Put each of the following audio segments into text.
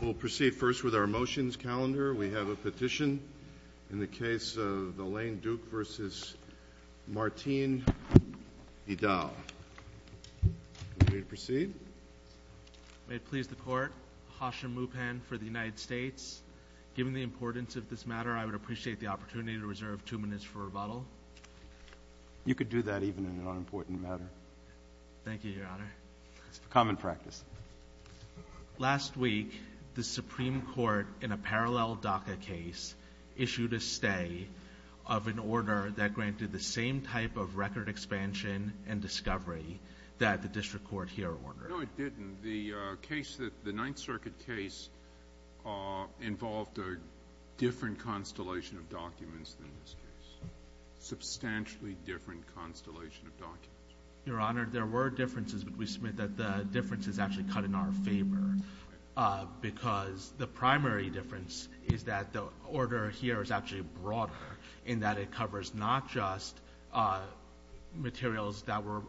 We'll proceed first with our motions calendar. We have a petition in the case of Elaine Duke vs. Martine Hidal. Are we ready to proceed? May it please the Court, Hasha Mupen for the United States. Given the importance of this matter, I would appreciate the opportunity to reserve two minutes for rebuttal. You could do that even in an unimportant matter. Thank you, Your Honor. It's common practice. Last week, the Supreme Court, in a parallel DACA case, issued a stay of an order that granted the same type of record expansion and discovery that the District Court here ordered. No, it didn't. The case, the Ninth Circuit case, involved a different constellation of documents than this case. Substantially different constellation of documents. Your Honor, there were differences, but we submit that the difference is actually cut in our favor. Because the primary difference is that the order here is actually broader, in that it covers not just materials that were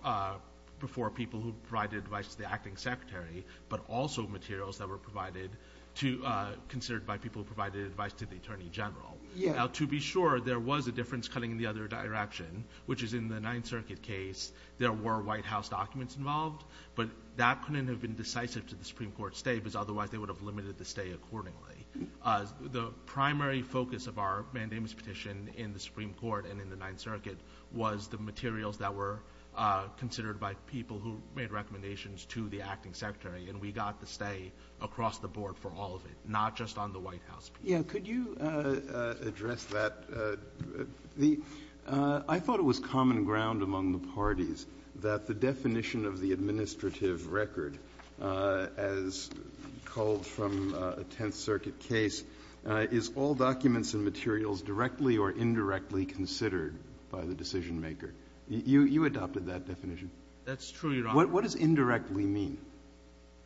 before people who provided advice to the Acting Secretary, but also materials that were provided to, considered by people who provided advice to the Attorney General. Now, to be sure, there was a difference cutting in the other direction, which is in the Ninth Circuit case, there were White House documents involved, but that couldn't have been decisive to the Supreme Court stay, because otherwise they would have limited the stay accordingly. The primary focus of our mandamus petition in the Supreme Court and in the Ninth Circuit was the materials that were considered by people who made recommendations to the Acting Secretary, and we got the stay across the board for all of it, not just on the White House. Breyer. Yeah. Could you address that? I thought it was common ground among the parties that the definition of the administrative record, as called from a Tenth Circuit case, is all documents and materials directly or indirectly considered by the decisionmaker. You adopted that definition. That's true, Your Honor. What does indirectly mean?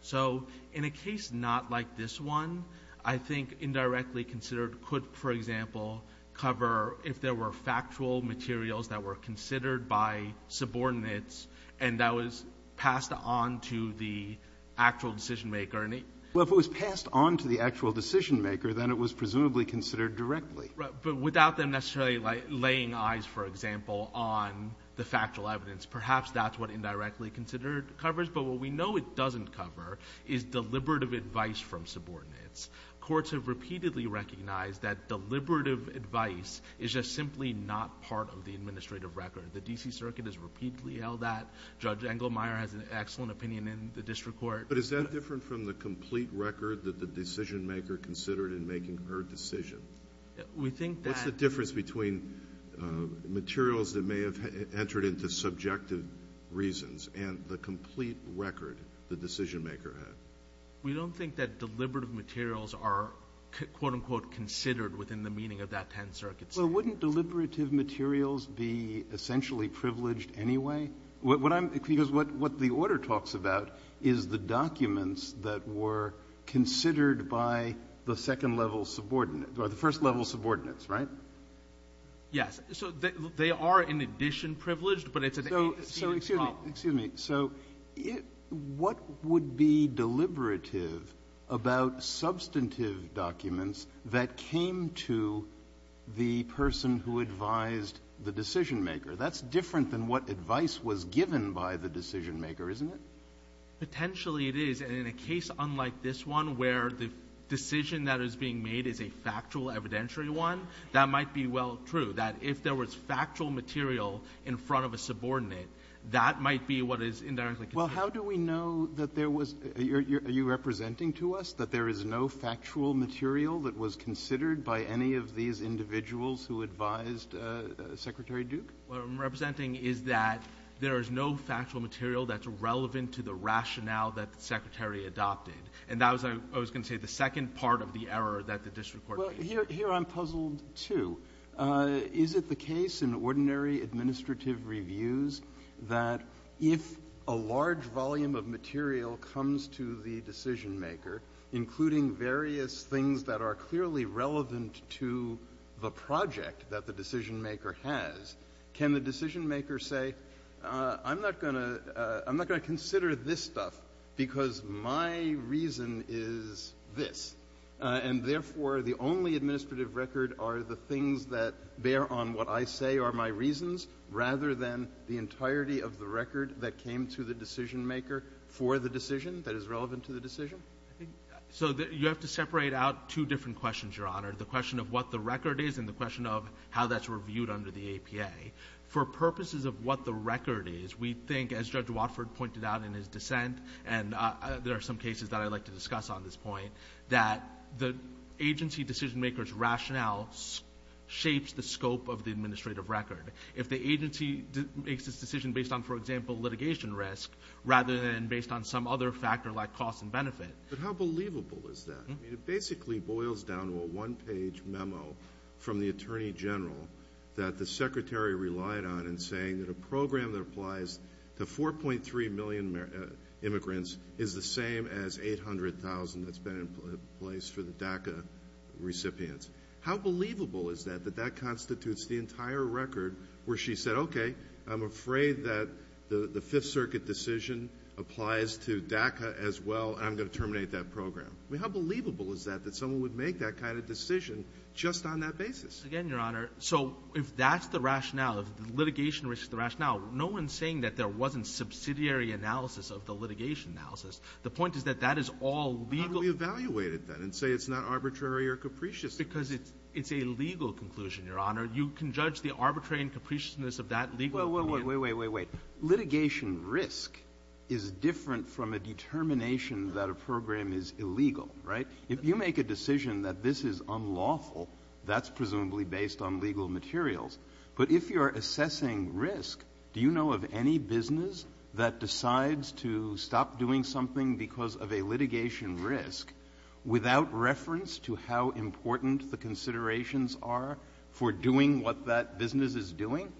So in a case not like this one, I think indirectly considered could, for example, cover if there were factual materials that were considered by subordinates and that was passed on to the actual decisionmaker. Well, if it was passed on to the actual decisionmaker, then it was presumably considered directly. Right. But without them necessarily, like, laying eyes, for example, on the factual evidence. Perhaps that's what indirectly considered covers. But what we know it doesn't cover is deliberative advice from subordinates. Courts have repeatedly recognized that deliberative advice is just simply not part of the administrative record. The D.C. Circuit has repeatedly held that. Judge Engelmeyer has an excellent opinion in the district court. But is that different from the complete record that the decisionmaker considered in making her decision? We think that — and the complete record the decisionmaker had. We don't think that deliberative materials are, quote, unquote, considered within the meaning of that 10th Circuit statute. Well, wouldn't deliberative materials be essentially privileged anyway? Because what the order talks about is the documents that were considered by the second-level subordinates, or the first-level subordinates, right? Yes. So they are, in addition, privileged, but it's a serious problem. Excuse me. So what would be deliberative about substantive documents that came to the person who advised the decisionmaker? That's different than what advice was given by the decisionmaker, isn't it? Potentially it is. And in a case unlike this one, where the decision that is being made is a factual evidentiary one, that might be well true. That if there was factual material in front of a subordinate, that might be what is indirectly considered. Well, how do we know that there was — are you representing to us that there is no factual material that was considered by any of these individuals who advised Secretary Duke? What I'm representing is that there is no factual material that's relevant to the rationale that the Secretary adopted. And that was, I was going to say, the second part of the error that the district court made. Well, here I'm puzzled, too. Is it the case in ordinary administrative reviews that if a large volume of material comes to the decisionmaker, including various things that are clearly relevant to the project that the decisionmaker has, can the decisionmaker say, I'm not going to consider this stuff because my reason is this, and therefore the only administrative record are the things that bear on what I say are my reasons, rather than the entirety of the record that came to the decisionmaker for the decision that is relevant to the decision? So you have to separate out two different questions, Your Honor, the question of what the record is and the question of how that's reviewed under the APA. For purposes of what the record is, we think, as Judge Watford pointed out in his dissent, and there are some cases that I'd like to discuss on this point, that the agency decisionmaker's rationale shapes the scope of the administrative record. If the agency makes its decision based on, for example, litigation risk, rather than based on some other factor like cost and benefit. But how believable is that? It basically boils down to a one-page memo from the Attorney General that the Secretary relied on in saying that a program that applies to 4.3 million immigrants is the same as 800,000 that's been in place for the DACA recipients. How believable is that, that that constitutes the entire record where she said, okay, I'm afraid that the Fifth Circuit decision applies to DACA as well, and I'm going to terminate that program. How believable is that, that someone would make that kind of decision just on that basis? Again, Your Honor, so if that's the rationale, if litigation risk is the rationale, no one's saying that there wasn't subsidiary analysis of the litigation analysis. The point is that that is all legal. How do we evaluate it, then, and say it's not arbitrary or capricious? Because it's a legal conclusion, Your Honor. You can judge the arbitrary and capriciousness of that legally. Wait, wait, wait, wait, wait, wait. Litigation risk is different from a determination that a program is illegal, right? If you make a decision that this is unlawful, that's presumably based on legal materials. But if you're assessing risk, do you know of any business that decides to stop doing something because of a litigation risk without reference to how important the considerations are for doing what that business is doing?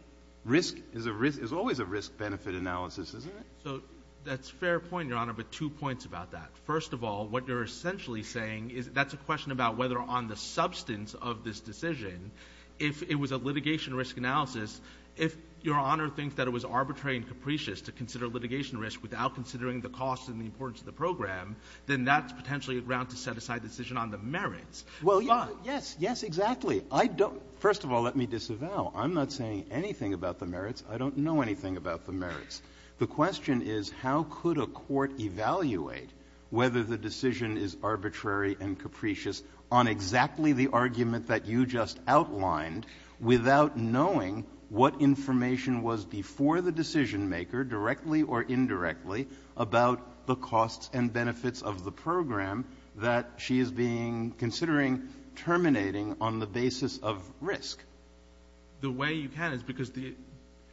Risk is always a risk-benefit analysis, isn't it? So that's a fair point, Your Honor, but two points about that. First of all, what you're essentially saying is that's a question about whether on the substance of this decision, if it was a litigation risk analysis, if Your Honor thinks that it was arbitrary and capricious to consider litigation risk without considering the cost and the importance of the program, then that's potentially a ground to set aside decision on the merits. Well, yes, yes, exactly. First of all, let me disavow. I'm not saying anything about the merits. I don't know anything about the merits. The question is how could a court evaluate whether the decision is arbitrary and capricious on exactly the argument that you just outlined without knowing what information was before the decisionmaker, directly or indirectly, about the costs and benefits of the program that she is being — considering terminating on the basis of risk? The way you can is because the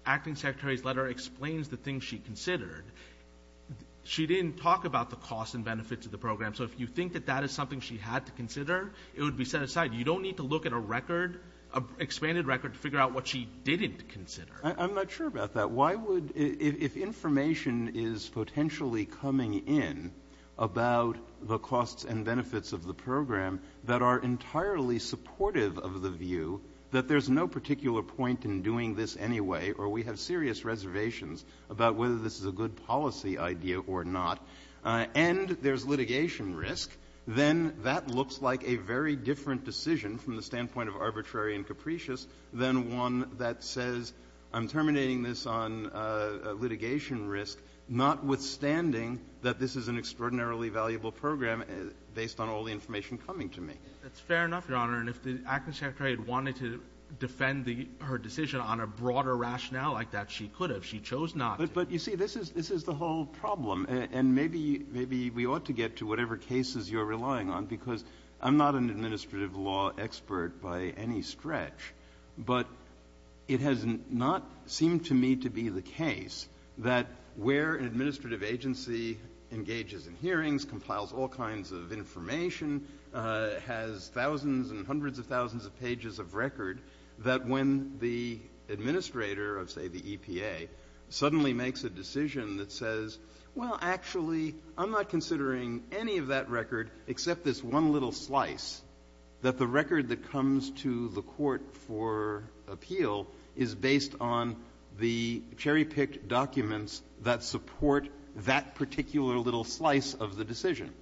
Acting Secretary's letter explains the things she considered. She didn't talk about the costs and benefits of the program. So if you think that that is something she had to consider, it would be set aside. You don't need to look at a record, an expanded record, to figure out what she didn't consider. I'm not sure about that. Why would — if information is potentially coming in about the costs and benefits of the program that are entirely supportive of the view that there's no particular point in doing this anyway or we have serious reservations about whether this is a good policy idea or not, and there's litigation risk, then that looks like a very different decision from the standpoint of arbitrary and capricious than one that says I'm terminating this on litigation risk, notwithstanding that this is an extraordinarily valuable program based on all the That's fair enough, Your Honor. And if the Acting Secretary had wanted to defend her decision on a broader rationale like that, she could have. She chose not to. But, you see, this is the whole problem. And maybe we ought to get to whatever cases you're relying on, because I'm not an administrative law expert by any stretch. But it has not seemed to me to be the case that where an administrative agency engages in hearings, compiles all kinds of information, has thousands and hundreds of thousands of pages of record, that when the administrator of, say, the EPA suddenly makes a decision that says, well, actually, I'm not considering any of that record except this one little slice, that the record that comes to the court for appeal is based on the cherry-picked documents that support that particular little slice of the decision.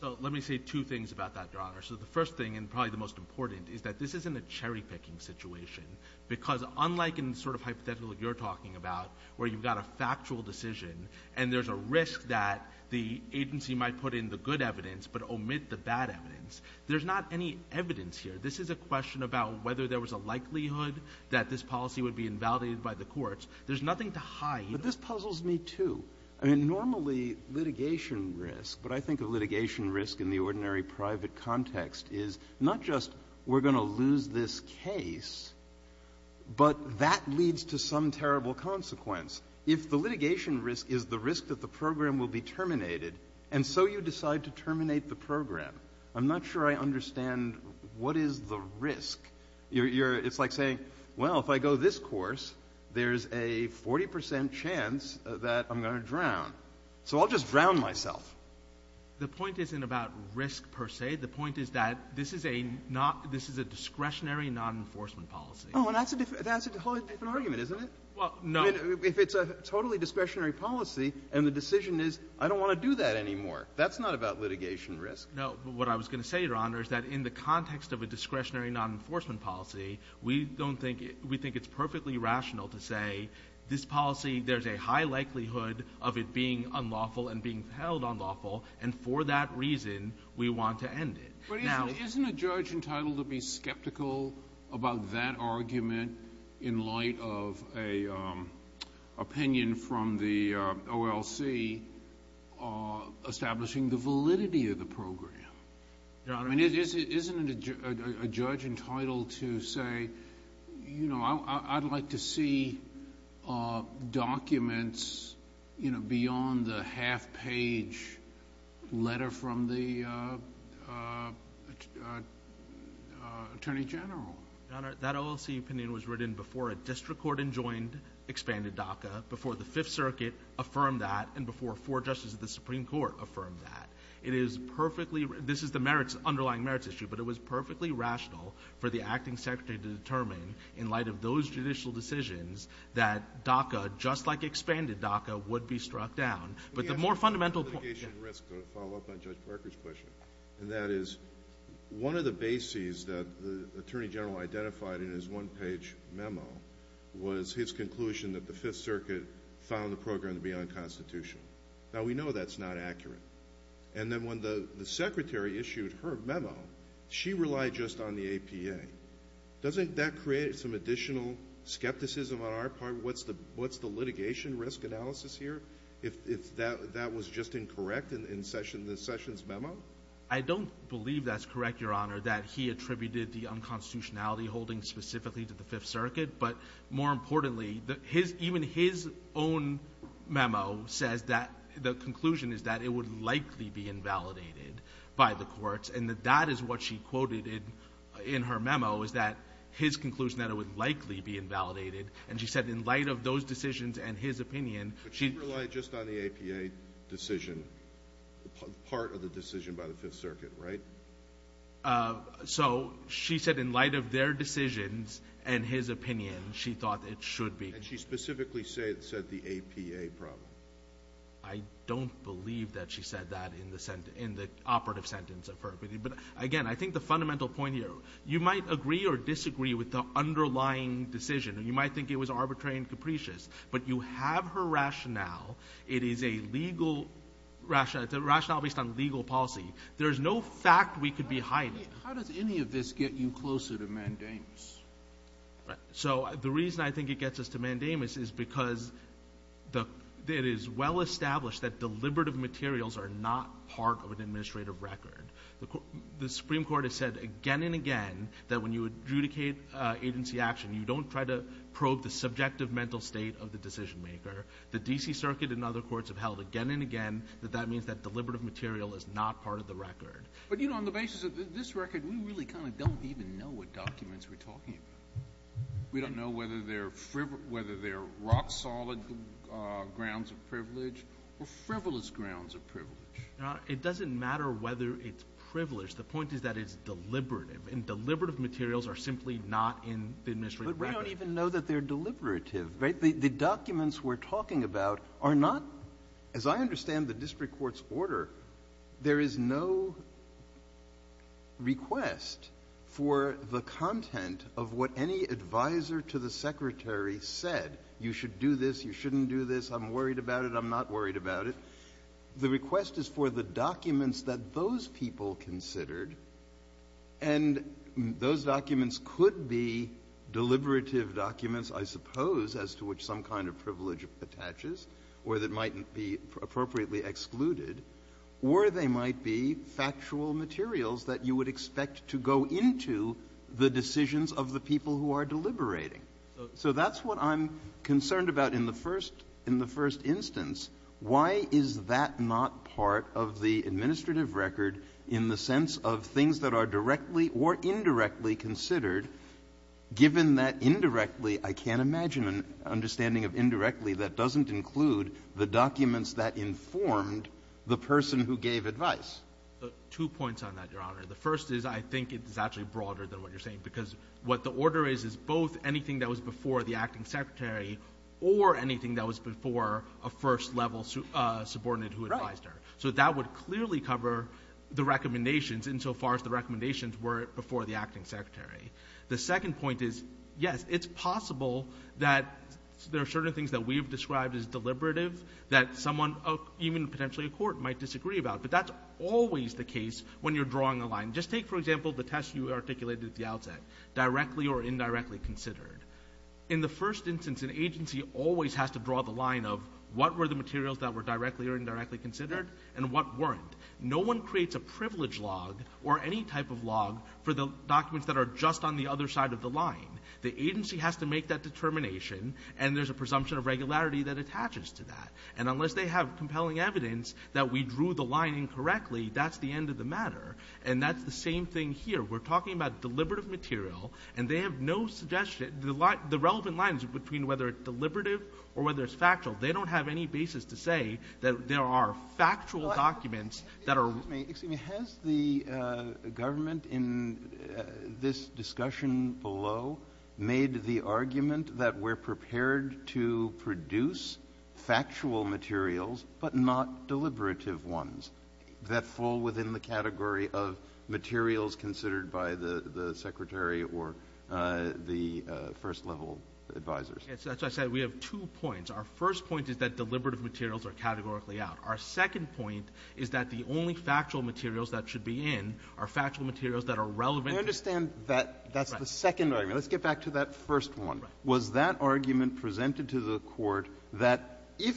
So let me say two things about that, Your Honor. So the first thing, and probably the most important, is that this isn't a cherry-picking situation, because unlike in the sort of hypothetical you're talking about where you've got a factual decision and there's a risk that the agency might put in the good evidence but omit the bad evidence, there's not any evidence here. This is a question about whether there was a likelihood that this policy would be invalidated by the courts. There's nothing to hide. Breyer. But this puzzles me, too. I mean, normally litigation risk, what I think of litigation risk in the ordinary private context is not just we're going to lose this case, but that leads to some terrible consequence. If the litigation risk is the risk that the program will be terminated, and so you decide to terminate the program, I'm not sure I understand what is the risk. It's like saying, well, if I go this course, there's a 40 percent chance that I'm going to drown. So I'll just drown myself. The point isn't about risk per se. The point is that this is a discretionary non-enforcement policy. Oh, and that's a whole different argument, isn't it? Well, no. I mean, if it's a totally discretionary policy and the decision is I don't want to do that anymore, that's not about litigation risk. No, but what I was going to say, Your Honor, is that in the context of a discretionary non-enforcement policy, we think it's perfectly rational to say this policy, there's a high likelihood of it being unlawful and being held unlawful, and for that reason we want to end it. But isn't a judge entitled to be skeptical about that argument in light of an opinion from the OLC establishing the validity of the program? Your Honor— I mean, isn't a judge entitled to say, you know, I'd like to see documents, you know, beyond the half-page letter from the Attorney General? Your Honor, that OLC opinion was written before a district court enjoined expanded DACA, before the Fifth Circuit affirmed that, and before four justices of the Supreme Court affirmed that. It is perfectly—this is the merits, underlying merits issue, but it was perfectly rational for the Acting Secretary to determine in light of those judicial decisions that DACA, just like expanded DACA, would be struck down. But the more fundamental— Let me ask you about litigation risk to follow up on Judge Parker's question, and that is, one of the bases that the Attorney General identified in his one-page memo was his conclusion that the Fifth Circuit found the program to be unconstitutional. Now, we know that's not accurate. And then when the Secretary issued her memo, she relied just on the APA. Doesn't that create some additional skepticism on our part? What's the litigation risk analysis here, if that was just incorrect in the Sessions memo? I don't believe that's correct, Your Honor, that he attributed the unconstitutionality holding specifically to the Fifth Circuit. But more importantly, even his own memo says that the conclusion is that it would likely be invalidated by the courts. And that is what she quoted in her memo, is that his conclusion that it would likely be invalidated. And she said in light of those decisions and his opinion— But she relied just on the APA decision, part of the decision by the Fifth Circuit, right? So she said in light of their decisions and his opinion, she thought it should be— And she specifically said the APA problem. I don't believe that she said that in the operative sentence of her opinion. But again, I think the fundamental point here, you might agree or disagree with the underlying decision. You might think it was arbitrary and capricious. But you have her rationale. It is a legal rationale. It's a rationale based on legal policy. There is no fact we could be hiding. How does any of this get you closer to Mandamus? So the reason I think it gets us to Mandamus is because it is well established that deliberative materials are not part of an administrative record. The Supreme Court has said again and again that when you adjudicate agency action, you don't try to probe the subjective mental state of the decision maker. The D.C. Circuit and other courts have held again and again that that means that But, you know, on the basis of this record, we really kind of don't even know what documents we're talking about. We don't know whether they're rock-solid grounds of privilege or frivolous grounds of privilege. It doesn't matter whether it's privileged. The point is that it's deliberative. And deliberative materials are simply not in the administrative record. But we don't even know that they're deliberative. The documents we're talking about are not, as I understand the district court's there is no request for the content of what any advisor to the secretary said. You should do this. You shouldn't do this. I'm worried about it. I'm not worried about it. The request is for the documents that those people considered, and those documents could be deliberative documents, I suppose, as to which some kind of privilege attaches or that might be appropriately excluded, or they might be factual materials that you would expect to go into the decisions of the people who are deliberating. So that's what I'm concerned about in the first instance. Why is that not part of the administrative record in the sense of things that are directly or indirectly considered, given that indirectly, I can't imagine an understanding of indirectly that doesn't include the documents that informed the person who gave advice? Two points on that, Your Honor. The first is I think it's actually broader than what you're saying, because what the order is is both anything that was before the acting secretary or anything that was before a first-level subordinate who advised her. Right. So that would clearly cover the recommendations insofar as the recommendations were before the acting secretary. The second point is, yes, it's possible that there are certain things that we've described as deliberative that someone, even potentially a court, might disagree about. But that's always the case when you're drawing a line. Just take, for example, the test you articulated at the outset, directly or indirectly considered. In the first instance, an agency always has to draw the line of what were the materials that were directly or indirectly considered and what weren't. No one creates a privilege log or any type of log for the documents that are just on the other side of the line. The agency has to make that determination, and there's a presumption of regularity that attaches to that. And unless they have compelling evidence that we drew the line incorrectly, that's the end of the matter. And that's the same thing here. We're talking about deliberative material, and they have no suggestion. The relevant lines between whether it's deliberative or whether it's factual, they don't have any basis to say that there are factual documents that are ---- Excuse me. Excuse me. Has the government in this discussion below made the argument that we're prepared to produce factual materials but not deliberative ones that fall within the category of materials considered by the Secretary or the first-level advisors? That's what I said. We have two points. Our first point is that deliberative materials are categorically out. Our second point is that the only factual materials that should be in are factual materials that are relevant to the ---- I understand that that's the second argument. Let's get back to that first one. Right. Was that argument presented to the Court that if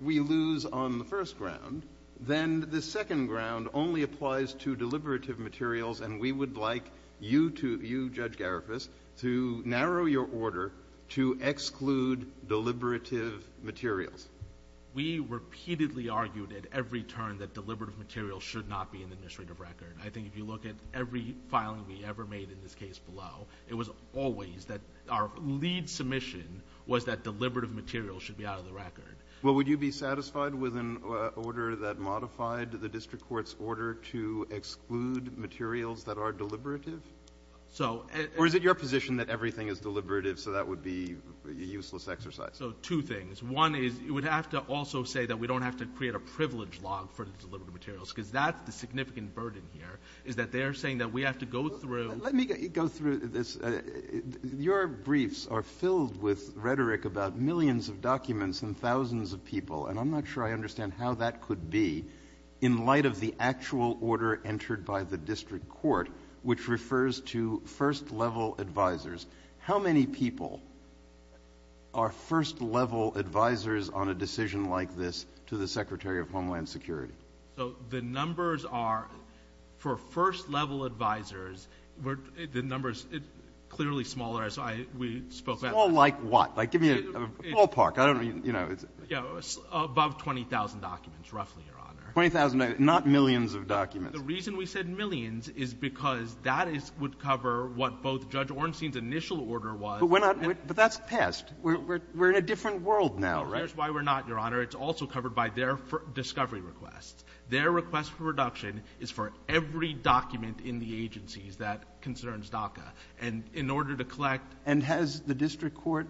we lose on the first ground, then the second ground only applies to deliberative materials, and we would like you to ---- you, Judge Garifus, to narrow your order to exclude deliberative materials? We repeatedly argued at every turn that deliberative materials should not be in the administrative record. I think if you look at every filing we ever made in this case below, it was always that our lead submission was that deliberative materials should be out of the record. Well, would you be satisfied with an order that modified the district court's order to exclude materials that are deliberative? So ---- Or is it your position that everything is deliberative, so that would be a useless exercise? So two things. One is you would have to also say that we don't have to create a privilege log for the deliberative materials, because that's the significant burden here, is that they are saying that we have to go through ---- Let me go through this. Your briefs are filled with rhetoric about millions of documents and thousands of people. And I'm not sure I understand how that could be in light of the actual order entered by the district court, which refers to first-level advisers. How many people are first-level advisers on a decision like this to the Secretary of Homeland Security? So the numbers are, for first-level advisers, the numbers are clearly smaller. So I ---- Small like what? Like give me a ballpark. I don't mean, you know ---- Above 20,000 documents, roughly, Your Honor. 20,000, not millions of documents. The reason we said millions is because that would cover what both Judge Ornstein's initial order was ---- But we're not ---- but that's past. We're in a different world now, right? That's why we're not, Your Honor. It's also covered by their discovery requests. Their request for reduction is for every document in the agencies that concerns DACA. And in order to collect ---- And has the district court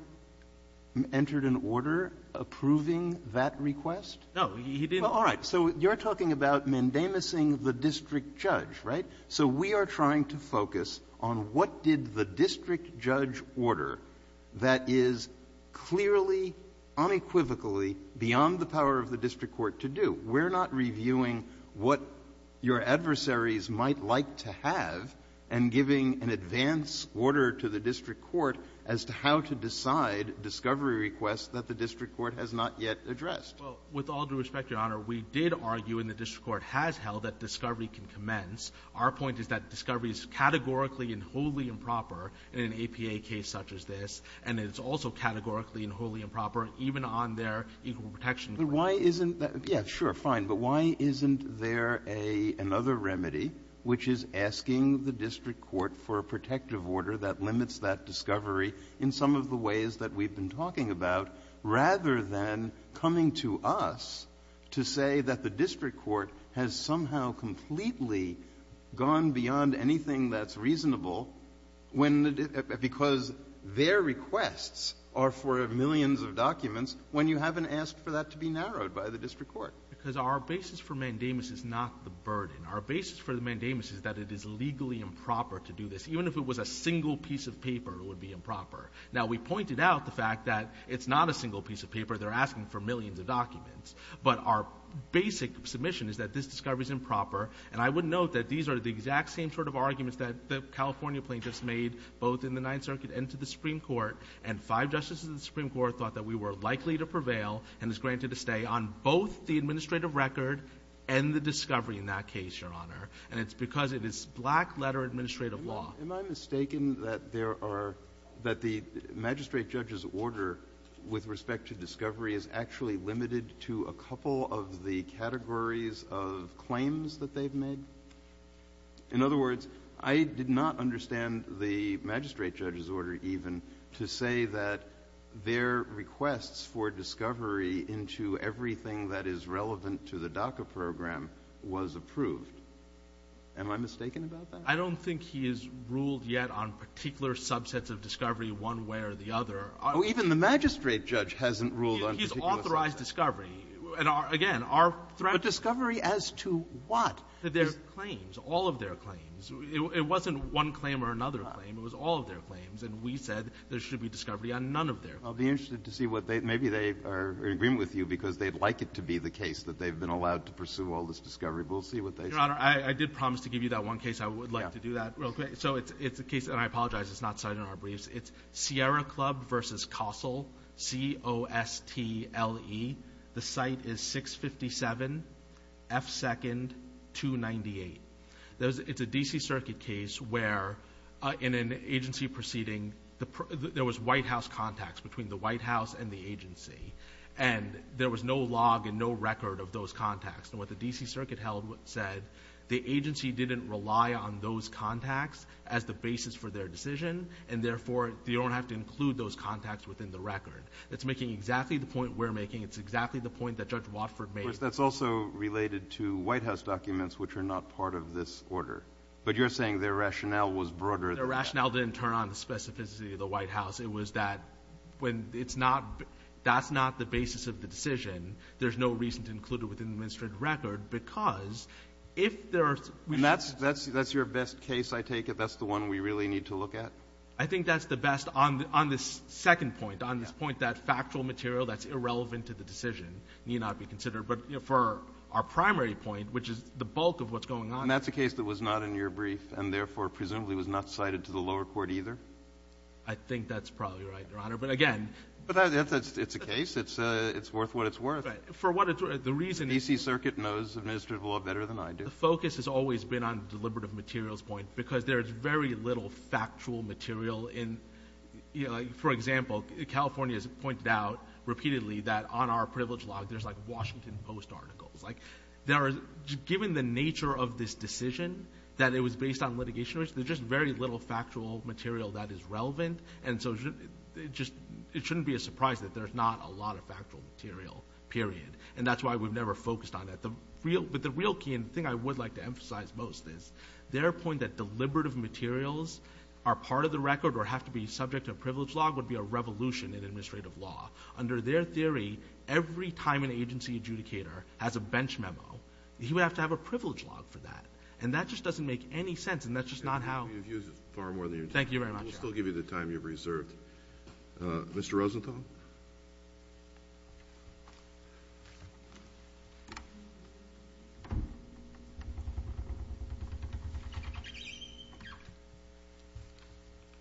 entered an order approving that request? No. He didn't. All right. So you're talking about mendemising the district judge, right? So we are trying to focus on what did the district judge order that is clearly, unequivocally, beyond the power of the district court to do. We're not reviewing what your adversaries might like to have and giving an advance order to the district court as to how to decide discovery requests that the district court has not yet addressed. Well, with all due respect, Your Honor, we did argue, and the district court has held, that discovery can commence. Our point is that discovery is categorically and wholly improper in an APA case such as this. And it's also categorically and wholly improper even on their equal protection claim. But why isn't that ---- Yeah, sure, fine. But why isn't there a ---- another remedy which is asking the district court for a protective order that limits that discovery in some of the ways that we've been talking about, rather than coming to us to say that the district court has somehow completely gone beyond anything that's reasonable when the ---- because their requests are for millions of documents when you haven't asked for that to be narrowed by the district court? Because our basis for mendemis is not the burden. Our basis for the mendemis is that it is legally improper to do this. Even if it was a single piece of paper, it would be improper. Now, we pointed out the fact that it's not a single piece of paper. They're asking for millions of documents. But our basic submission is that this discovery is improper. And I would note that these are the exact same sort of arguments that the California plaintiffs made both in the Ninth Circuit and to the Supreme Court. And five justices of the Supreme Court thought that we were likely to prevail and was granted to stay on both the administrative record and the discovery in that case, Your Honor. And it's because it is black-letter administrative law. Am I mistaken that there are ---- that the magistrate judge's order with respect to discovery is actually limited to a couple of the categories of claims that they've made? In other words, I did not understand the magistrate judge's order even to say that their requests for discovery into everything that is relevant to the DACA program was approved. Am I mistaken about that? I don't think he has ruled yet on particular subsets of discovery one way or the other. Oh, even the magistrate judge hasn't ruled on particular ---- He's authorized discovery. And again, our threat is ---- But discovery as to what? Their claims, all of their claims. It wasn't one claim or another claim. It was all of their claims. And we said there should be discovery on none of their claims. I'll be interested to see what they ---- maybe they are in agreement with you because they'd like it to be the case that they've been allowed to pursue all this discovery. But we'll see what they say. Your Honor, I did promise to give you that one case. I would like to do that real quick. So it's a case, and I apologize it's not cited in our briefs. It's Sierra Club v. Kossel, C-O-S-T-L-E. The site is 657 F. 2nd, 298. It's a D.C. Circuit case where in an agency proceeding, there was White House contacts between the White House and the agency. And there was no log and no record of those contacts. And what the D.C. Circuit held said, the agency didn't rely on those contacts as the basis for their decision, and therefore they don't have to include those contacts within the record. That's making exactly the point we're making. It's exactly the point that Judge Watford made. That's also related to White House documents which are not part of this order. But you're saying their rationale was broader than that. Their rationale didn't turn on the specificity of the White House. It was that when it's not, that's not the basis of the decision, there's no reason to include it within the administrative record because if there are. And that's your best case, I take it. That's the one we really need to look at? I think that's the best on this second point, on this point that factual material that's irrelevant to the decision need not be considered. But for our primary point, which is the bulk of what's going on. And that's a case that was not in your brief and therefore presumably was not cited to the lower court either? I think that's probably right, Your Honor. But again. But it's a case. It's worth what it's worth. For what it's worth. The reason. The D.C. Circuit knows administrative law better than I do. The focus has always been on the deliberative materials point because there's very little factual material in. For example, California has pointed out repeatedly that on our privilege law, there's like Washington Post articles. Given the nature of this decision, that it was based on litigation, there's just very little factual material that is relevant. And so it shouldn't be a surprise that there's not a lot of factual material, period. And that's why we've never focused on it. But the real key, and the thing I would like to emphasize most, is their point that deliberative materials are part of the record or have to be subject to a privilege law would be a revolution in administrative law. Under their theory, every time an agency adjudicator has a bench memo, he would have to have a privilege law for that. And that just doesn't make any sense, and that's just not how. You've used it far more than you need to. Thank you very much, Your Honor. We'll still give you the time you've reserved. Mr. Rosenthal?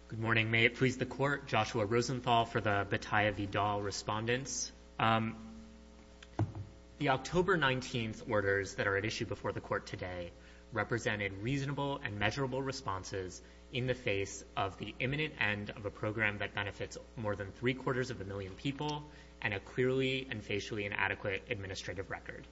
Good morning. May it please the Court, Joshua Rosenthal for the Bataya Vidal Respondents. The October 19th orders that are at issue before the Court today represented reasonable and measurable responses in the face of the imminent end of a program that benefits more than three-quarters of a million people and a clearly and facially inadequate administrative record.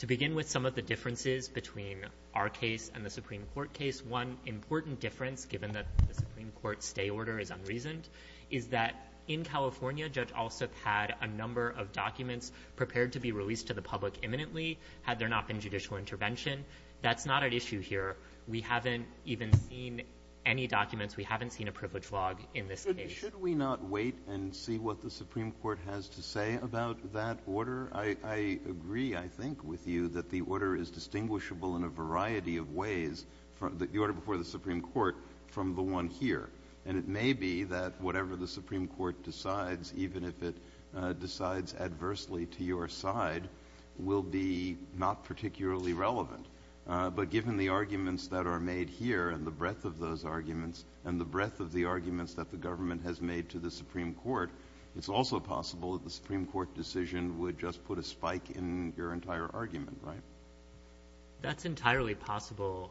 To begin with some of the differences between our case and the Supreme Court case, one important difference, given that the Supreme Court's stay order is unreasoned, is that in California, Judge Alsup had a number of documents prepared to be released to the public imminently, had there not been judicial intervention. That's not at issue here. We haven't even seen any documents. We haven't seen a privilege log in this case. Should we not wait and see what the Supreme Court has to say about that order? I agree, I think, with you that the order is distinguishable in a variety of ways from the order before the Supreme Court from the one here. And it may be that whatever the Supreme Court decides, even if it decides adversely to your side, will be not particularly relevant. But given the arguments that are made here and the breadth of those arguments and the breadth of the arguments that the government has made to the Supreme Court, it's also possible that the Supreme Court decision would just put a spike in your entire argument, right? That's entirely possible.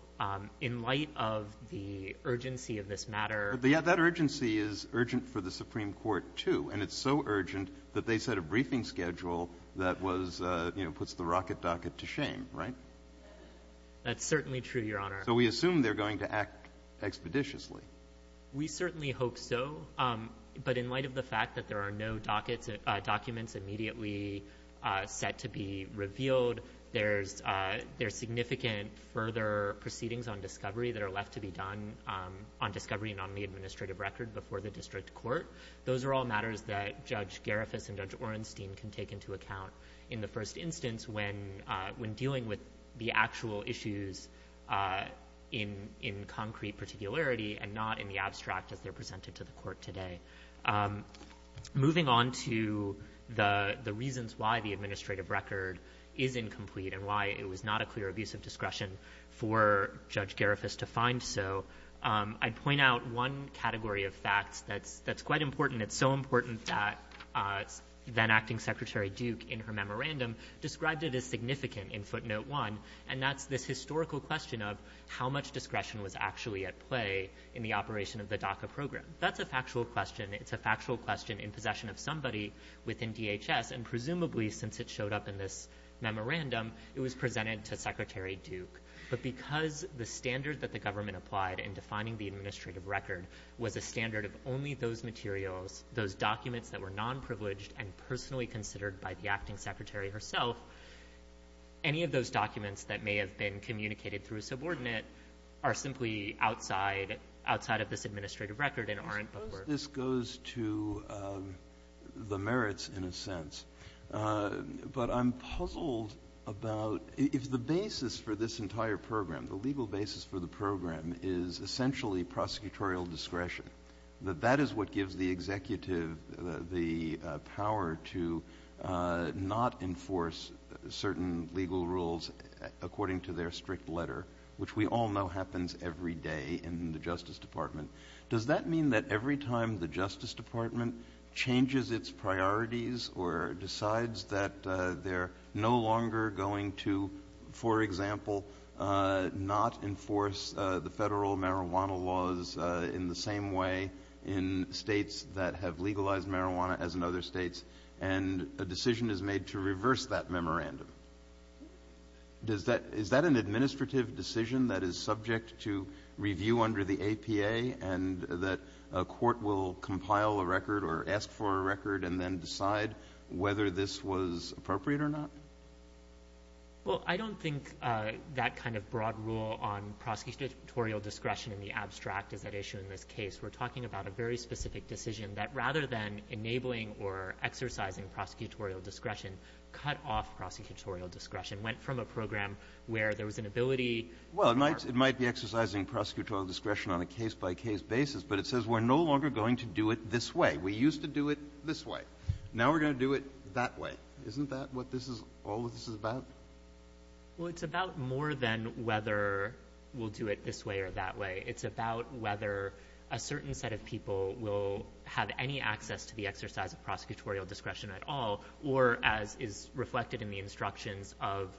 In light of the urgency of this matter — But, yeah, that urgency is urgent for the Supreme Court, too. And it's so urgent that they set a briefing schedule that was, you know, puts the rocket docket to shame, right? That's certainly true, Your Honor. So we assume they're going to act expeditiously. We certainly hope so. But in light of the fact that there are no dockets — documents immediately set to be revealed, there's significant further proceedings on discovery that are left to be done on discovery and on the administrative record before the district court. Those are all matters that Judge Garifas and Judge Orenstein can take into account in the first instance when dealing with the actual issues in concrete particularity and not in the abstract as they're presented to the court today. Moving on to the reasons why the administrative record is incomplete and why it was not a clear abuse of discretion for Judge Garifas to find so, I'd point out one category of facts that's quite important. It's so important that then-Acting Secretary Duke, in her memorandum, described it as significant in footnote one, and that's this historical question of how much discretion was actually at play in the operation of the DACA program. That's a factual question. It's a factual question in possession of somebody within DHS, and presumably since it showed up in this memorandum, it was presented to Secretary Duke. But because the standard that the government applied in defining the administrative record was a standard of only those materials, those documents that were non-privileged and personally considered by the Acting Secretary herself, any of those documents that may have been communicated through a subordinate are simply outside of this administrative record and aren't the work. I suppose this goes to the merits in a sense, but I'm puzzled about if the basis for this entire program, the legal basis for the program is essentially prosecutorial discretion, that that is what gives the executive the power to not enforce certain legal rules according to their strict letter, which we all know happens every day in the Justice Department. Does that mean that every time the Justice Department changes its priorities or decides that they're no longer going to, for example, not enforce the federal marijuana laws in the same way in states that have legalized marijuana as in other states and a decision is made to reverse that memorandum, is that an administrative decision that is subject to review under the APA and that a court will compile a record or ask for a record and then decide whether this was appropriate or not? Well, I don't think that kind of broad rule on prosecutorial discretion in the abstract is at issue in this case. We're talking about a very specific decision that rather than enabling or exercising prosecutorial discretion, cut off prosecutorial discretion, went from a program where there was an ability to impart. Well, it might be exercising prosecutorial discretion on a case-by-case basis, but it says we're no longer going to do it this way. We used to do it this way. Now we're going to do it that way. Isn't that what this is all about? Well, it's about more than whether we'll do it this way or that way. It's about whether a certain set of people will have any access to the exercise of prosecutorial discretion at all or, as is reflected in the instructions of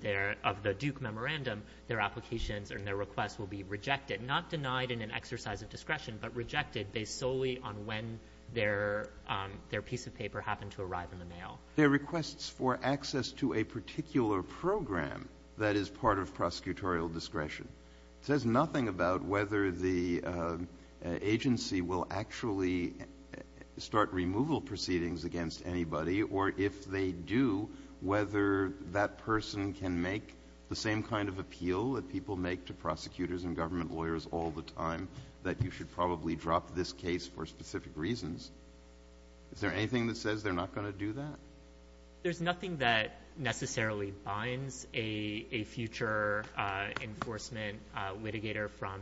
their — of the Duke memorandum, their applications and their requests will be rejected, not denied in an exercise of discretion, but rejected based solely on when their piece of paper happened to arrive in the mail. There are requests for access to a particular program that is part of prosecutorial discretion. It says nothing about whether the agency will actually start removal proceedings against anybody or, if they do, whether that person can make the same kind of appeal that people make to prosecutors and government lawyers all the time, that you should probably drop this case for specific reasons. Is there anything that says they're not going to do that? There's nothing that necessarily binds a future enforcement litigator from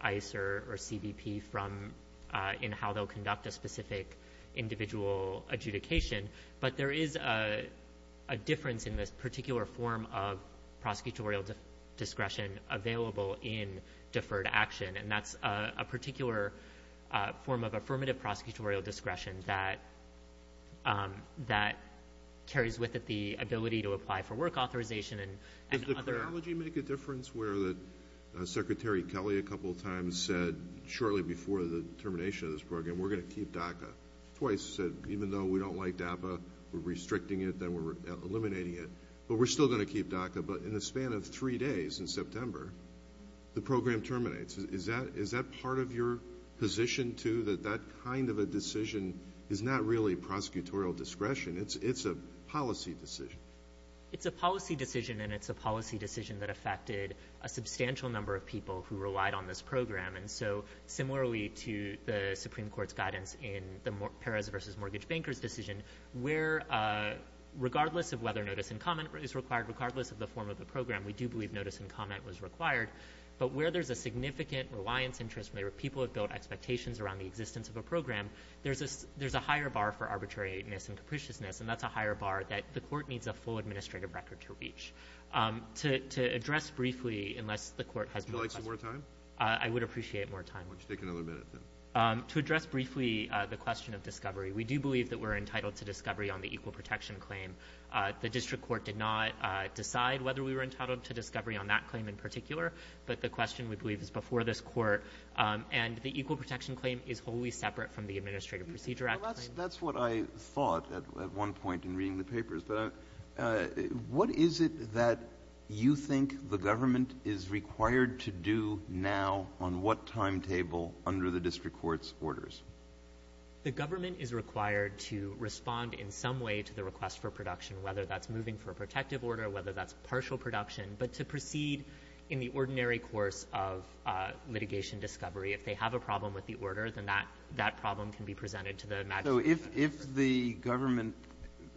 ICE or CBP from — in how they'll conduct a specific individual adjudication. But there is a difference in this particular form of prosecutorial discretion available in deferred action, and that's a particular form of affirmative prosecutorial discretion that carries with it the ability to apply for work authorization and other — Did the chronology make a difference where Secretary Kelly a couple times said shortly before the termination of this program, we're going to keep DACA? Twice said, even though we don't like DAPA, we're restricting it, then we're eliminating it, but we're still going to keep DACA. But in the span of three days in September, the program terminates. Is that part of your position, too, that that kind of a decision is not really prosecutorial discretion? It's a policy decision. It's a policy decision, and it's a policy decision that affected a substantial number of people who relied on this program. And so similarly to the Supreme Court's guidance in the Perez v. Mortgage Bankers decision, where regardless of whether notice and comment is required, regardless of the form of the program, we do believe notice and comment was required. But where there's a significant reliance interest, where people have built expectations around the existence of a program, there's a higher bar for arbitrariness and capriciousness, and that's a higher bar that the court needs a full administrative record to reach. To address briefly, unless the court has more questions — Would you like some more time? I would appreciate more time. Why don't you take another minute, then? To address briefly the question of discovery, we do believe that we're entitled to discovery on the equal protection claim. The district court did not decide whether we were entitled to discovery on that claim in particular, but the question, we believe, is before this court. And the equal protection claim is wholly separate from the Administrative Procedure Act. That's what I thought at one point in reading the papers. But what is it that you think the government is required to do now on what timetable under the district court's orders? The government is required to respond in some way to the request for production, whether that's moving for a protective order, whether that's partial production, but to proceed in the ordinary course of litigation discovery. If they have a problem with the order, then that problem can be presented to the magistrate. So if the government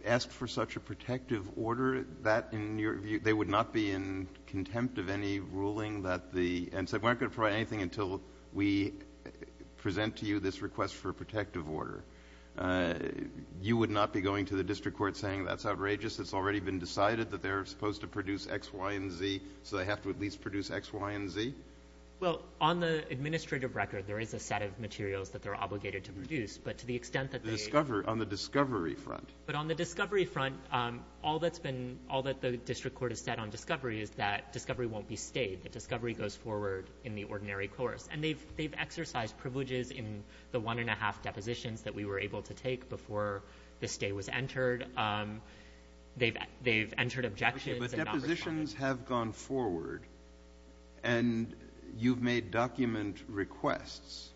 asked for such a protective order, that, in your view, they would not be in contempt of any ruling that the — and said, we're not going to provide anything until we present to you this request for a protective order. You would not be going to the district court saying, that's outrageous. It's already been decided that they're supposed to produce X, Y, and Z, so they have to at least produce X, Y, and Z? Well, on the administrative record, there is a set of materials that they're obligated to produce. But to the extent that they — On the discovery front. But on the discovery front, all that's been — all that the district court has said on discovery is that discovery won't be stayed, that discovery goes forward in the ordinary course. And they've exercised privileges in the one-and-a-half depositions that we were able to take before this day was entered. They've entered objections and not responded. Okay. But depositions have gone forward, and you've made document requests.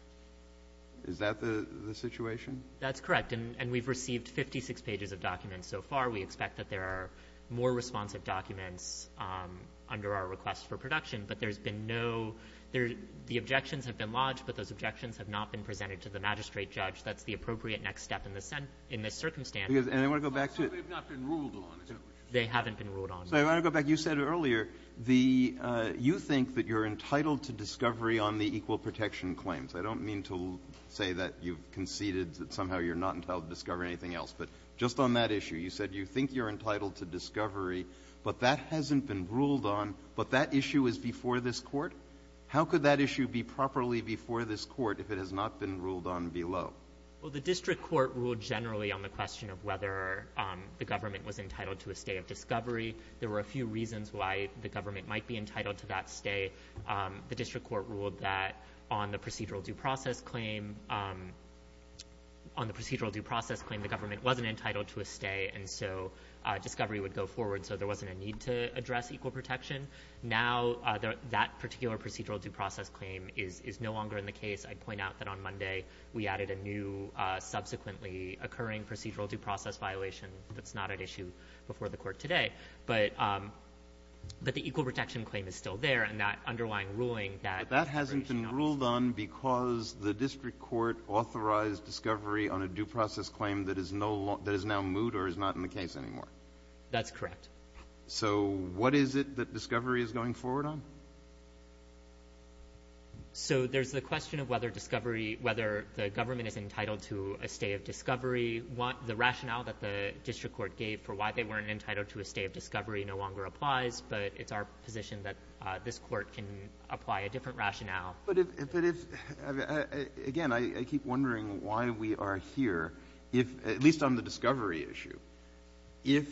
Is that the situation? That's correct. And we've received 56 pages of documents so far. We expect that there are more responsive documents under our request for production. But there's been no — the objections have been lodged, but those objections have not been presented to the magistrate judge. That's the appropriate next step in this circumstance. And I want to go back to — They've not been ruled on, essentially. They haven't been ruled on. So I want to go back. You said earlier the — you think that you're entitled to discovery on the equal protection claims. I don't mean to say that you've conceded that somehow you're not entitled to discover anything else. But just on that issue, you said you think you're entitled to discovery, but that hasn't been ruled on, but that issue is before this Court. How could that issue be properly before this Court if it has not been ruled on below? Well, the district court ruled generally on the question of whether the government was entitled to a stay of discovery. There were a few reasons why the government might be entitled to that stay. The district court ruled that on the procedural due process claim — on the procedural due process claim, the government wasn't entitled to a stay, and so discovery would go forward. So there wasn't a need to address equal protection. Now that particular procedural due process claim is no longer in the case. I'd point out that on Monday we added a new subsequently occurring procedural due process violation that's not at issue before the Court today. But the equal protection claim is still there, and that underlying ruling that — But that hasn't been ruled on because the district court authorized discovery on a due process claim that is now moot or is not in the case anymore. That's correct. So what is it that discovery is going forward on? So there's the question of whether discovery — whether the government is entitled to a stay of discovery. The rationale that the district court gave for why they weren't entitled to a stay of discovery no longer applies, but it's our position that this Court can apply a different rationale. But if — again, I keep wondering why we are here, at least on the discovery issue. If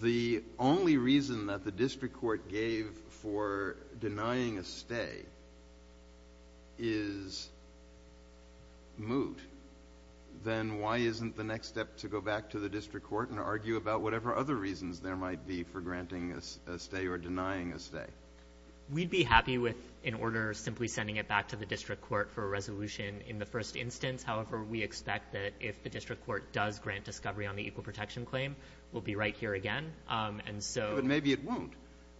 the only reason that the district court gave for denying a stay is moot, then why isn't the next step to go back to the district court and argue about whatever other reasons there might be for granting a stay or denying a stay? We'd be happy with an order simply sending it back to the district court for a resolution in the first instance. However, we expect that if the district court does grant discovery on the equal protection claim, we'll be right here again. And so — But maybe it won't.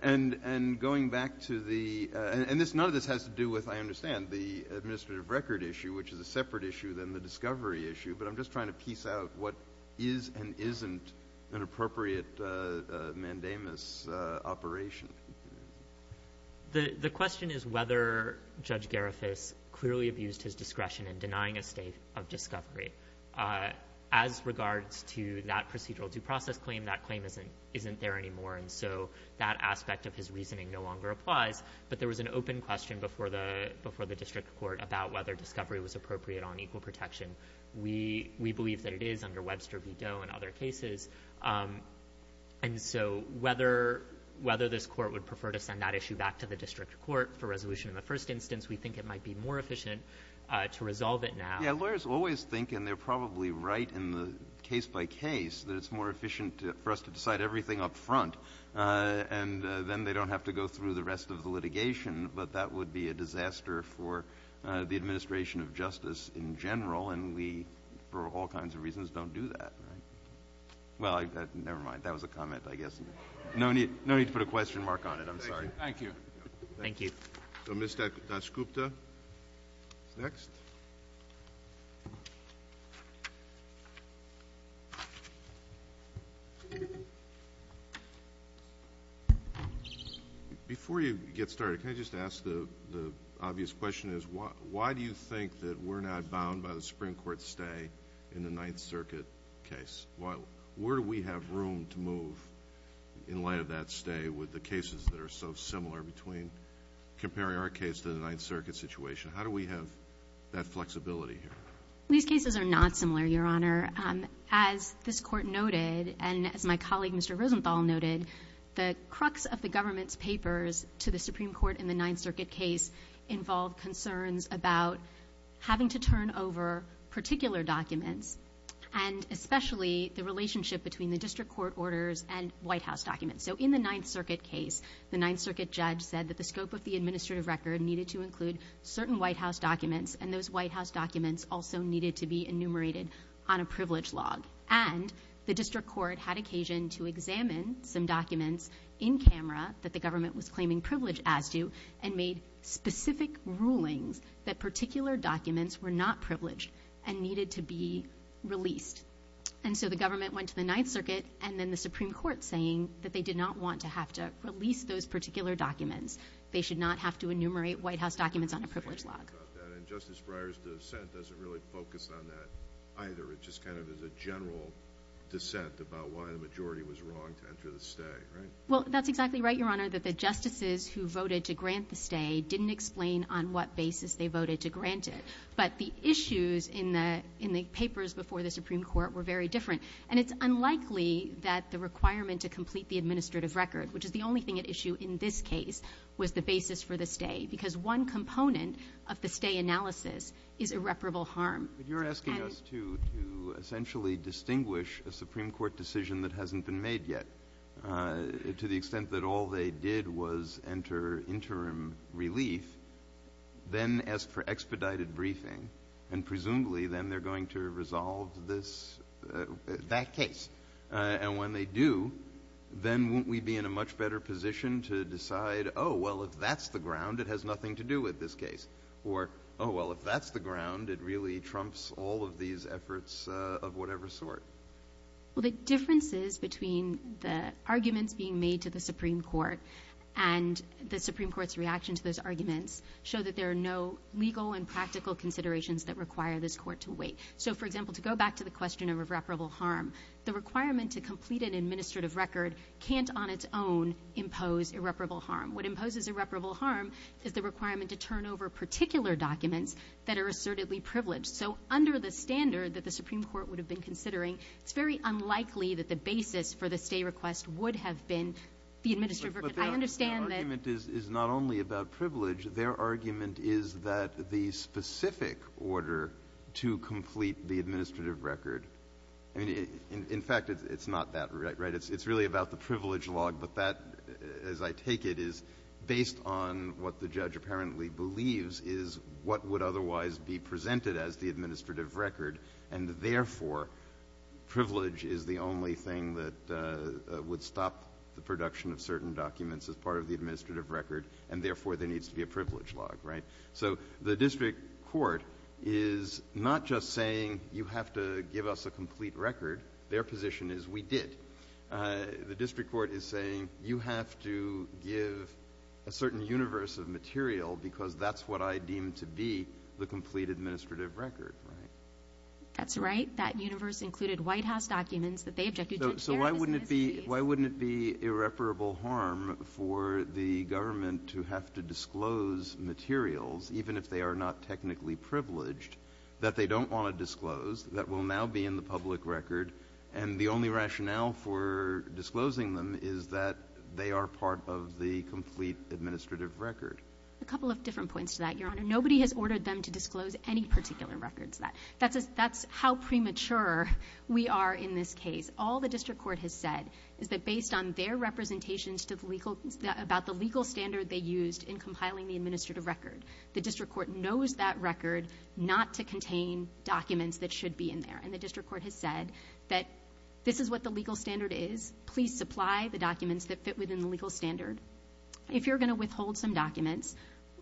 And going back to the — and none of this has to do with, I understand, the administrative record issue, which is a separate issue than the discovery issue, but I'm just trying to piece out what is and isn't an appropriate mandamus operation. The question is whether Judge Garifus clearly abused his discretion in denying a stay of discovery. As regards to that procedural due process claim, that claim isn't there anymore, and so that aspect of his reasoning no longer applies. But there was an open question before the district court about whether discovery was appropriate on equal protection. We believe that it is under Webster v. Doe and other cases. And so whether this court would prefer to send that issue back to the district court for resolution in the first instance, we think it might be more efficient to resolve it now. Yeah, lawyers always think, and they're probably right in the case-by-case, that it's more efficient for us to decide everything up front, and then they don't have to go through the rest of the litigation. But that would be a disaster for the administration of justice in general, and we, for all kinds of reasons, don't do that. Well, never mind. That was a comment, I guess. No need to put a question mark on it. I'm sorry. Thank you. Thank you. So Ms. Dasgupta is next. Before you get started, can I just ask the obvious question is, why do you think that we're not bound by the Supreme Court's stay in the Ninth Circuit case? Where do we have room to move in light of that stay with the cases that are so similar, comparing our case to the Ninth Circuit situation? How do we have that flexibility here? These cases are not similar, Your Honor. As this Court noted, and as my colleague, Mr. Rosenthal, noted, the crux of the government's papers to the Supreme Court in the Ninth Circuit case involved concerns about having to turn over particular documents, and especially the relationship between the district court orders and White House documents. So in the Ninth Circuit case, the Ninth Circuit judge said that the scope of the administrative record needed to include certain White House documents, and those White House documents also needed to be enumerated on a privilege log. And the district court had occasion to examine some documents in camera that the government was claiming privilege as to, and made specific rulings that particular documents were not privileged and needed to be released. And so the government went to the Ninth Circuit, and then the Supreme Court saying that they did not want to have to release those particular documents. They should not have to enumerate White House documents on a privilege log. And Justice Breyer's dissent doesn't really focus on that either. It just kind of is a general dissent about why the majority was wrong to enter the stay, right? Well, that's exactly right, Your Honor, that the justices who voted to grant the stay didn't explain on what basis they voted to grant it. But the issues in the papers before the Supreme Court were very different. And it's unlikely that the requirement to complete the administrative record, which is the only thing at issue in this case, was the basis for the stay. Because one component of the stay analysis is irreparable harm. But you're asking us to essentially distinguish a Supreme Court decision that hasn't been made yet to the extent that all they did was enter interim relief, then ask for expedited briefing, and presumably then they're going to resolve this, that case. And when they do, then won't we be in a much better position to decide, oh, well, if that's the ground, it has nothing to do with this case. Or, oh, well, if that's the ground, it really trumps all of these efforts of whatever sort. Well, the differences between the arguments being made to the Supreme Court and the Supreme Court's reaction to those arguments show that there are no legal and practical considerations that require this court to wait. So, for example, to go back to the question of irreparable harm, the requirement to complete an administrative record can't on its own impose irreparable harm. What imposes irreparable harm is the requirement to turn over particular documents that are assertedly privileged. So under the standard that the Supreme Court would have been considering, it's very unlikely that the basis for the stay request would have been the administrative record. I understand that — But their argument is not only about privilege. Their argument is that the specific order to complete the administrative record — I mean, in fact, it's not that, right? It's really about the privilege log, but that, as I take it, is based on what the judge apparently believes is what would otherwise be presented as the administrative record, and therefore, privilege is the only thing that would stop the production of certain documents as part of the administrative record, and therefore, there needs to be a privilege log, right? So the district court is not just saying you have to give us a complete record. Their position is we did. The district court is saying you have to give a certain universe of material because that's what I deem to be the complete administrative record, right? That's right. That universe included White House documents that they objected to. So why wouldn't it be irreparable harm for the government to have to disclose materials, even if they are not technically privileged, that they don't want to disclose, that will now be in the public record, and the only rationale for disclosing them is that they are part of the complete administrative record? A couple of different points to that, Your Honor. Nobody has ordered them to disclose any particular record to that. That's how premature we are in this case. All the district court has said is that based on their representations to the legal standard they used in compiling the administrative record, the district court knows that record not to contain documents that should be in there, and the district court has said that this is what the legal standard is. Please supply the documents that fit within the legal standard. If you're going to withhold some documents,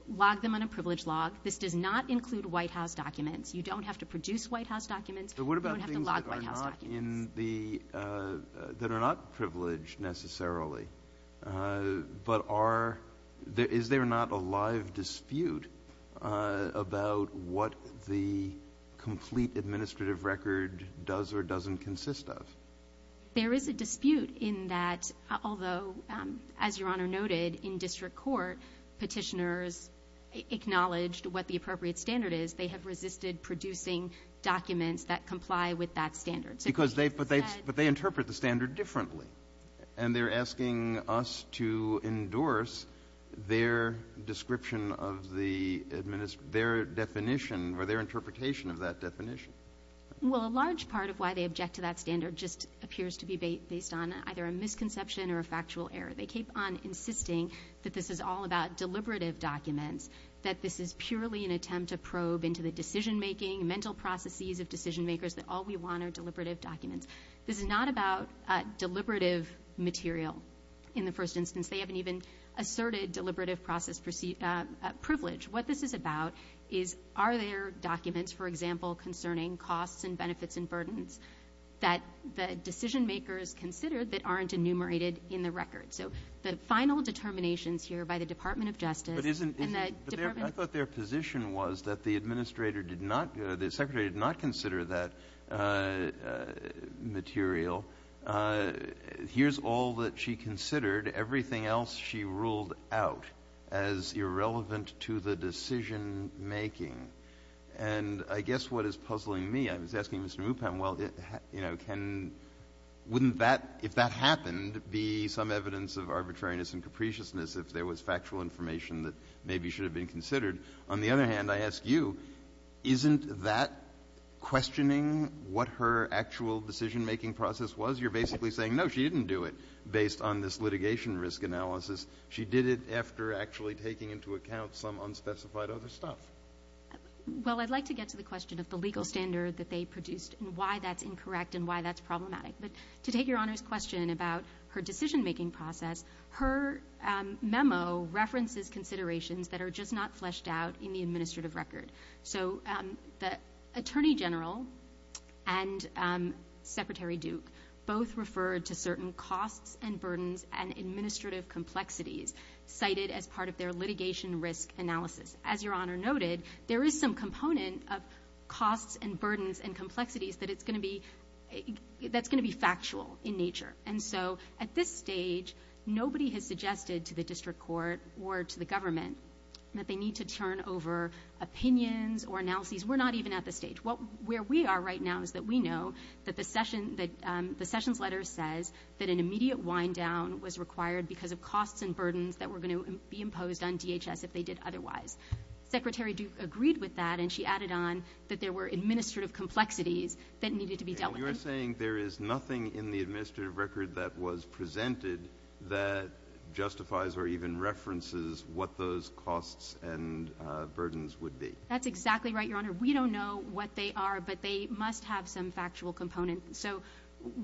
log them on a privilege log. This does not include White House documents. You don't have to produce White House documents. You don't have to log White House documents. They are documents that are not privileged necessarily, but is there not a live dispute about what the complete administrative record does or doesn't consist of? There is a dispute in that, although, as Your Honor noted, in district court, petitioners acknowledged what the appropriate standard is. They have resisted producing documents that comply with that standard. So they've said — But they interpret the standard differently. And they're asking us to endorse their description of the — their definition or their interpretation of that definition. Well, a large part of why they object to that standard just appears to be based on either a misconception or a factual error. They keep on insisting that this is all about deliberative documents, that this is mental processes of decision-makers, that all we want are deliberative documents. This is not about deliberative material in the first instance. They haven't even asserted deliberative process privilege. What this is about is, are there documents, for example, concerning costs and benefits and burdens that the decision-makers considered that aren't enumerated in the record? So the final determinations here by the Department of Justice and the Department — the Administrator did not — the Secretary did not consider that material. Here's all that she considered. Everything else she ruled out as irrelevant to the decision-making. And I guess what is puzzling me, I was asking Mr. Mupem, well, you know, can — wouldn't that, if that happened, be some evidence of arbitrariness and capriciousness if there was factual information that maybe should have been considered? On the other hand, I ask you, isn't that questioning what her actual decision-making process was? You're basically saying, no, she didn't do it based on this litigation risk analysis. She did it after actually taking into account some unspecified other stuff. Well, I'd like to get to the question of the legal standard that they produced and why that's incorrect and why that's problematic. But to take Your Honor's question about her decision-making process, her memo references considerations that are just not fleshed out in the administrative record. So the Attorney General and Secretary Duke both referred to certain costs and burdens and administrative complexities cited as part of their litigation risk analysis. As Your Honor noted, there is some component of costs and burdens and complexities that it's going to be — that's going to be factual in nature. And so at this stage, nobody has suggested to the district court or to the government that they need to turn over opinions or analyses. We're not even at the stage. Where we are right now is that we know that the Sessions letter says that an immediate wind-down was required because of costs and burdens that were going to be imposed on DHS if they did otherwise. Secretary Duke agreed with that, and she added on that there were administrative complexities that needed to be dealt with. So you're saying there is nothing in the administrative record that was presented that justifies or even references what those costs and burdens would be? That's exactly right, Your Honor. We don't know what they are, but they must have some factual component. So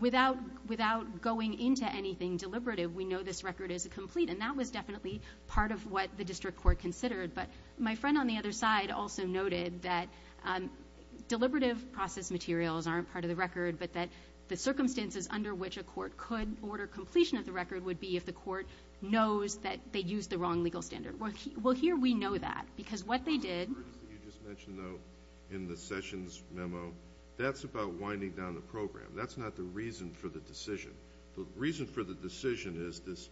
without going into anything deliberative, we know this record is complete, and that was definitely part of what the district court considered. But my friend on the other side also noted that deliberative process materials aren't part of the record, but that the circumstances under which a court could order completion of the record would be if the court knows that they used the wrong legal standard. Well, here we know that, because what they did— The costs and burdens that you just mentioned, though, in the Sessions memo, that's about winding down the program. That's not the reason for the decision. The reason for the decision is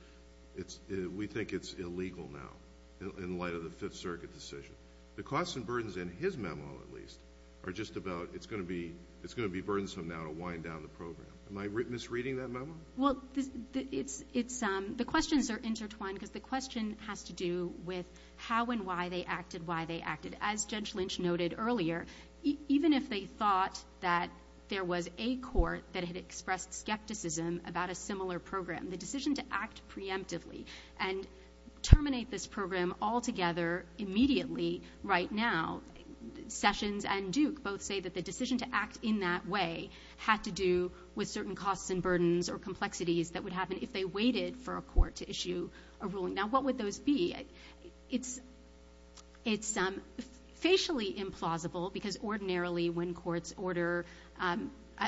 we think it's illegal now in light of the Fifth Circuit decision. The costs and burdens in his memo, at least, are just about, it's going to be burdensome now to wind down the program. Am I misreading that memo? Well, the questions are intertwined because the question has to do with how and why they acted why they acted. As Judge Lynch noted earlier, even if they thought that there was a court that had expressed skepticism about a similar program, the decision to act preemptively and terminate this program altogether immediately right now, Sessions and Duke both say that the decision to act in that way had to do with certain costs and burdens or complexities that would happen if they waited for a court to issue a ruling. Now, what would those be? It's facially implausible, because ordinarily when courts order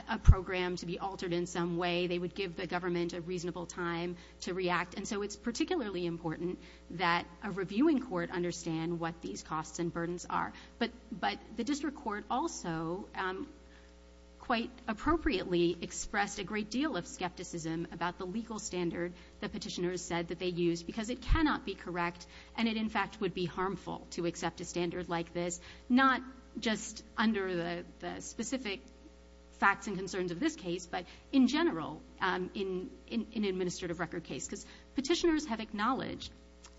a program to be altered in some way, they would give the government a reasonable time to react. And so it's particularly important that a reviewing court understand what these costs and burdens are. But the district court also quite appropriately expressed a great deal of skepticism about the legal standard the petitioners said that they used, because it cannot be correct and it, in fact, would be harmful to accept a standard like this, not just under the specific facts and concerns of this case, but in general in an administrative record case, because petitioners have acknowledged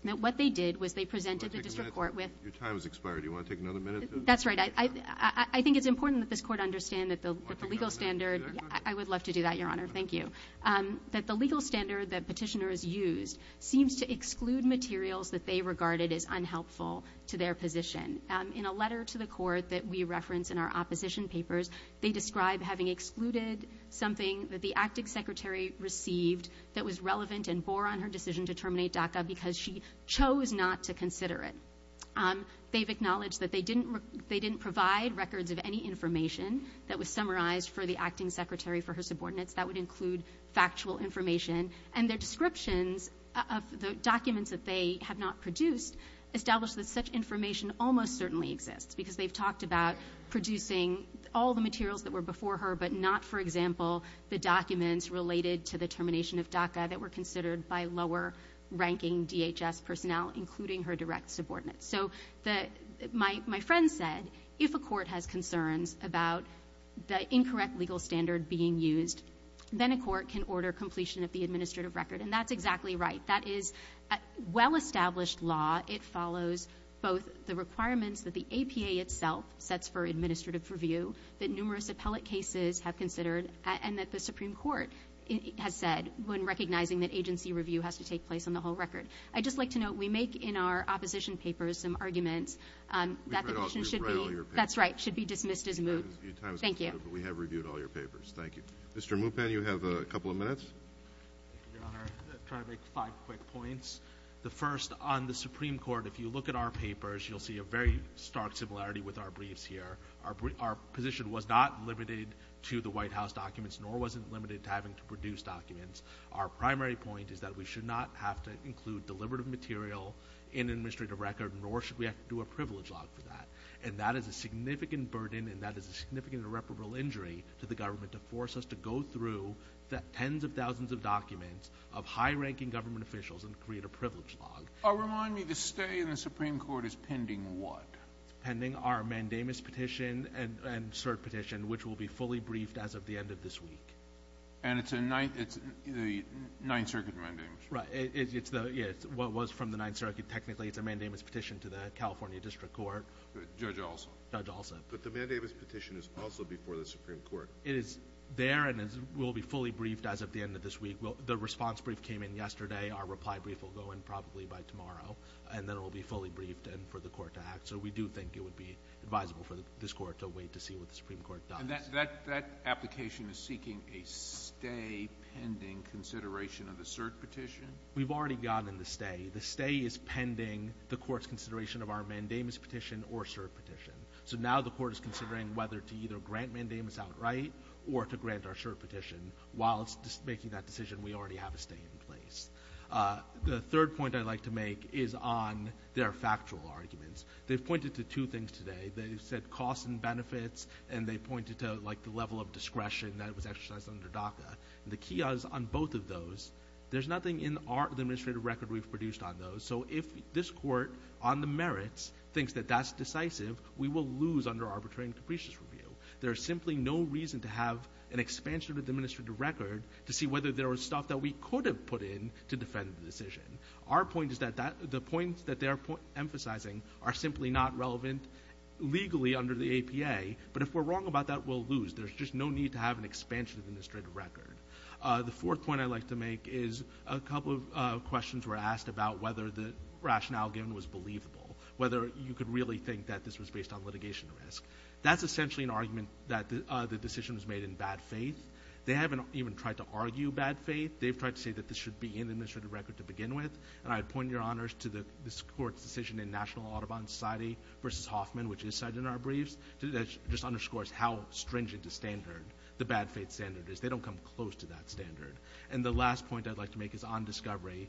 that what they did was they presented the district court with – Your time has expired. Do you want to take another minute? That's right. I think it's important that this court understand that the legal standard – I would love to do that, Your Honor. Thank you. That the legal standard that petitioners used seems to exclude materials that they regarded as unhelpful to their position. In a letter to the court that we reference in our opposition papers, they describe having excluded something that the acting secretary received that was relevant and bore on her decision to terminate DACA because she chose not to consider it. They've acknowledged that they didn't provide records of any information that was summarized for the acting secretary, for her subordinates. That would include factual information. And their descriptions of the documents that they have not produced establish that such information almost certainly exists, because they've talked about producing all the materials that were before her but not, for example, the documents related to the termination of DACA that were considered by lower-ranking DHS personnel, including her direct subordinates. So my friend said if a court has concerns about the incorrect legal standard being used, then a court can order completion of the administrative record. And that's exactly right. That is a well-established law. It follows both the requirements that the APA itself sets for administrative review, that numerous appellate cases have considered, and that the Supreme Court has said when recognizing that agency review has to take place on the whole record. I'd just like to note we make in our opposition papers some arguments that the decision should be ‑‑ We've read all your papers. That's right. It should be dismissed as moot. Thank you. But we have reviewed all your papers. Thank you. Mr. Mupan, you have a couple of minutes. Your Honor, I'll try to make five quick points. The first, on the Supreme Court, if you look at our papers, you'll see a very stark similarity with our briefs here. Our position was not limited to the White House documents, nor was it limited to having to produce documents. Our primary point is that we should not have to include deliberative material in an administrative record, nor should we have to do a privilege log for that. And that is a significant burden, and that is a significant irreparable injury to the government to force us to go through tens of thousands of documents of high-ranking government officials and create a privilege log. Remind me, the stay in the Supreme Court is pending what? It's pending our mandamus petition and cert petition, which will be fully briefed as of the end of this week. And it's the Ninth Circuit mandamus. Right. It's what was from the Ninth Circuit. Technically, it's a mandamus petition to the California District Court. Judge Olson. Judge Olson. But the mandamus petition is also before the Supreme Court. It is there and will be fully briefed as of the end of this week. The response brief came in yesterday. Our reply brief will go in probably by tomorrow, and then it will be fully briefed and for the Court to act. So we do think it would be advisable for this Court to wait to see what the Supreme Court does. And that application is seeking a stay pending consideration of the cert petition? We've already gotten the stay. The stay is pending the Court's consideration of our mandamus petition or cert petition. So now the Court is considering whether to either grant mandamus outright or to grant our cert petition. While it's making that decision, we already have a stay in place. The third point I'd like to make is on their factual arguments. They've pointed to two things today. They said costs and benefits, and they pointed to, like, the level of discretion that was exercised under DACA. The key is on both of those. There's nothing in the administrative record we've produced on those. So if this Court, on the merits, thinks that that's decisive, we will lose under arbitrary and capricious review. There is simply no reason to have an expansion of the administrative record to see whether there was stuff that we could have put in to defend the decision. Our point is that the points that they are emphasizing are simply not relevant legally under the APA. But if we're wrong about that, we'll lose. There's just no need to have an expansion of the administrative record. The fourth point I'd like to make is a couple of questions were asked about whether the rationale given was believable, whether you could really think that this was based on litigation risk. That's essentially an argument that the decision was made in bad faith. They haven't even tried to argue bad faith. They've tried to say that this should be in the administrative record to begin with, and I'd point your honors to this Court's decision in National Audubon Society v. Hoffman, which is cited in our briefs, that just underscores how stringent a standard the bad faith standard is. They don't come close to that standard. And the last point I'd like to make is on discovery.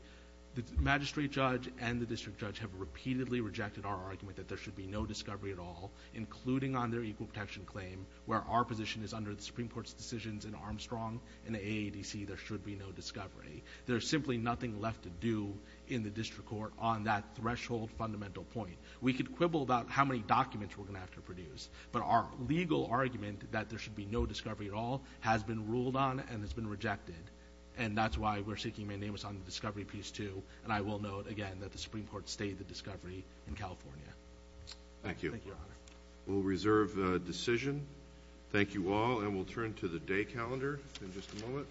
The magistrate judge and the district judge have repeatedly rejected our argument that there should be no discovery at all, including on their equal protection claim where our position is under the Supreme Court's decisions in Armstrong and the AADC, there should be no discovery. There's simply nothing left to do in the district court on that threshold fundamental point. We could quibble about how many documents we're going to have to produce, but our legal argument that there should be no discovery at all has been ruled on and has been rejected, and that's why we're seeking mandamus on the discovery piece too, and I will note again that the Supreme Court stayed the discovery in California. Thank you. Thank you, your honor. We'll reserve decision. Thank you all, and we'll turn to the day calendar in just a moment.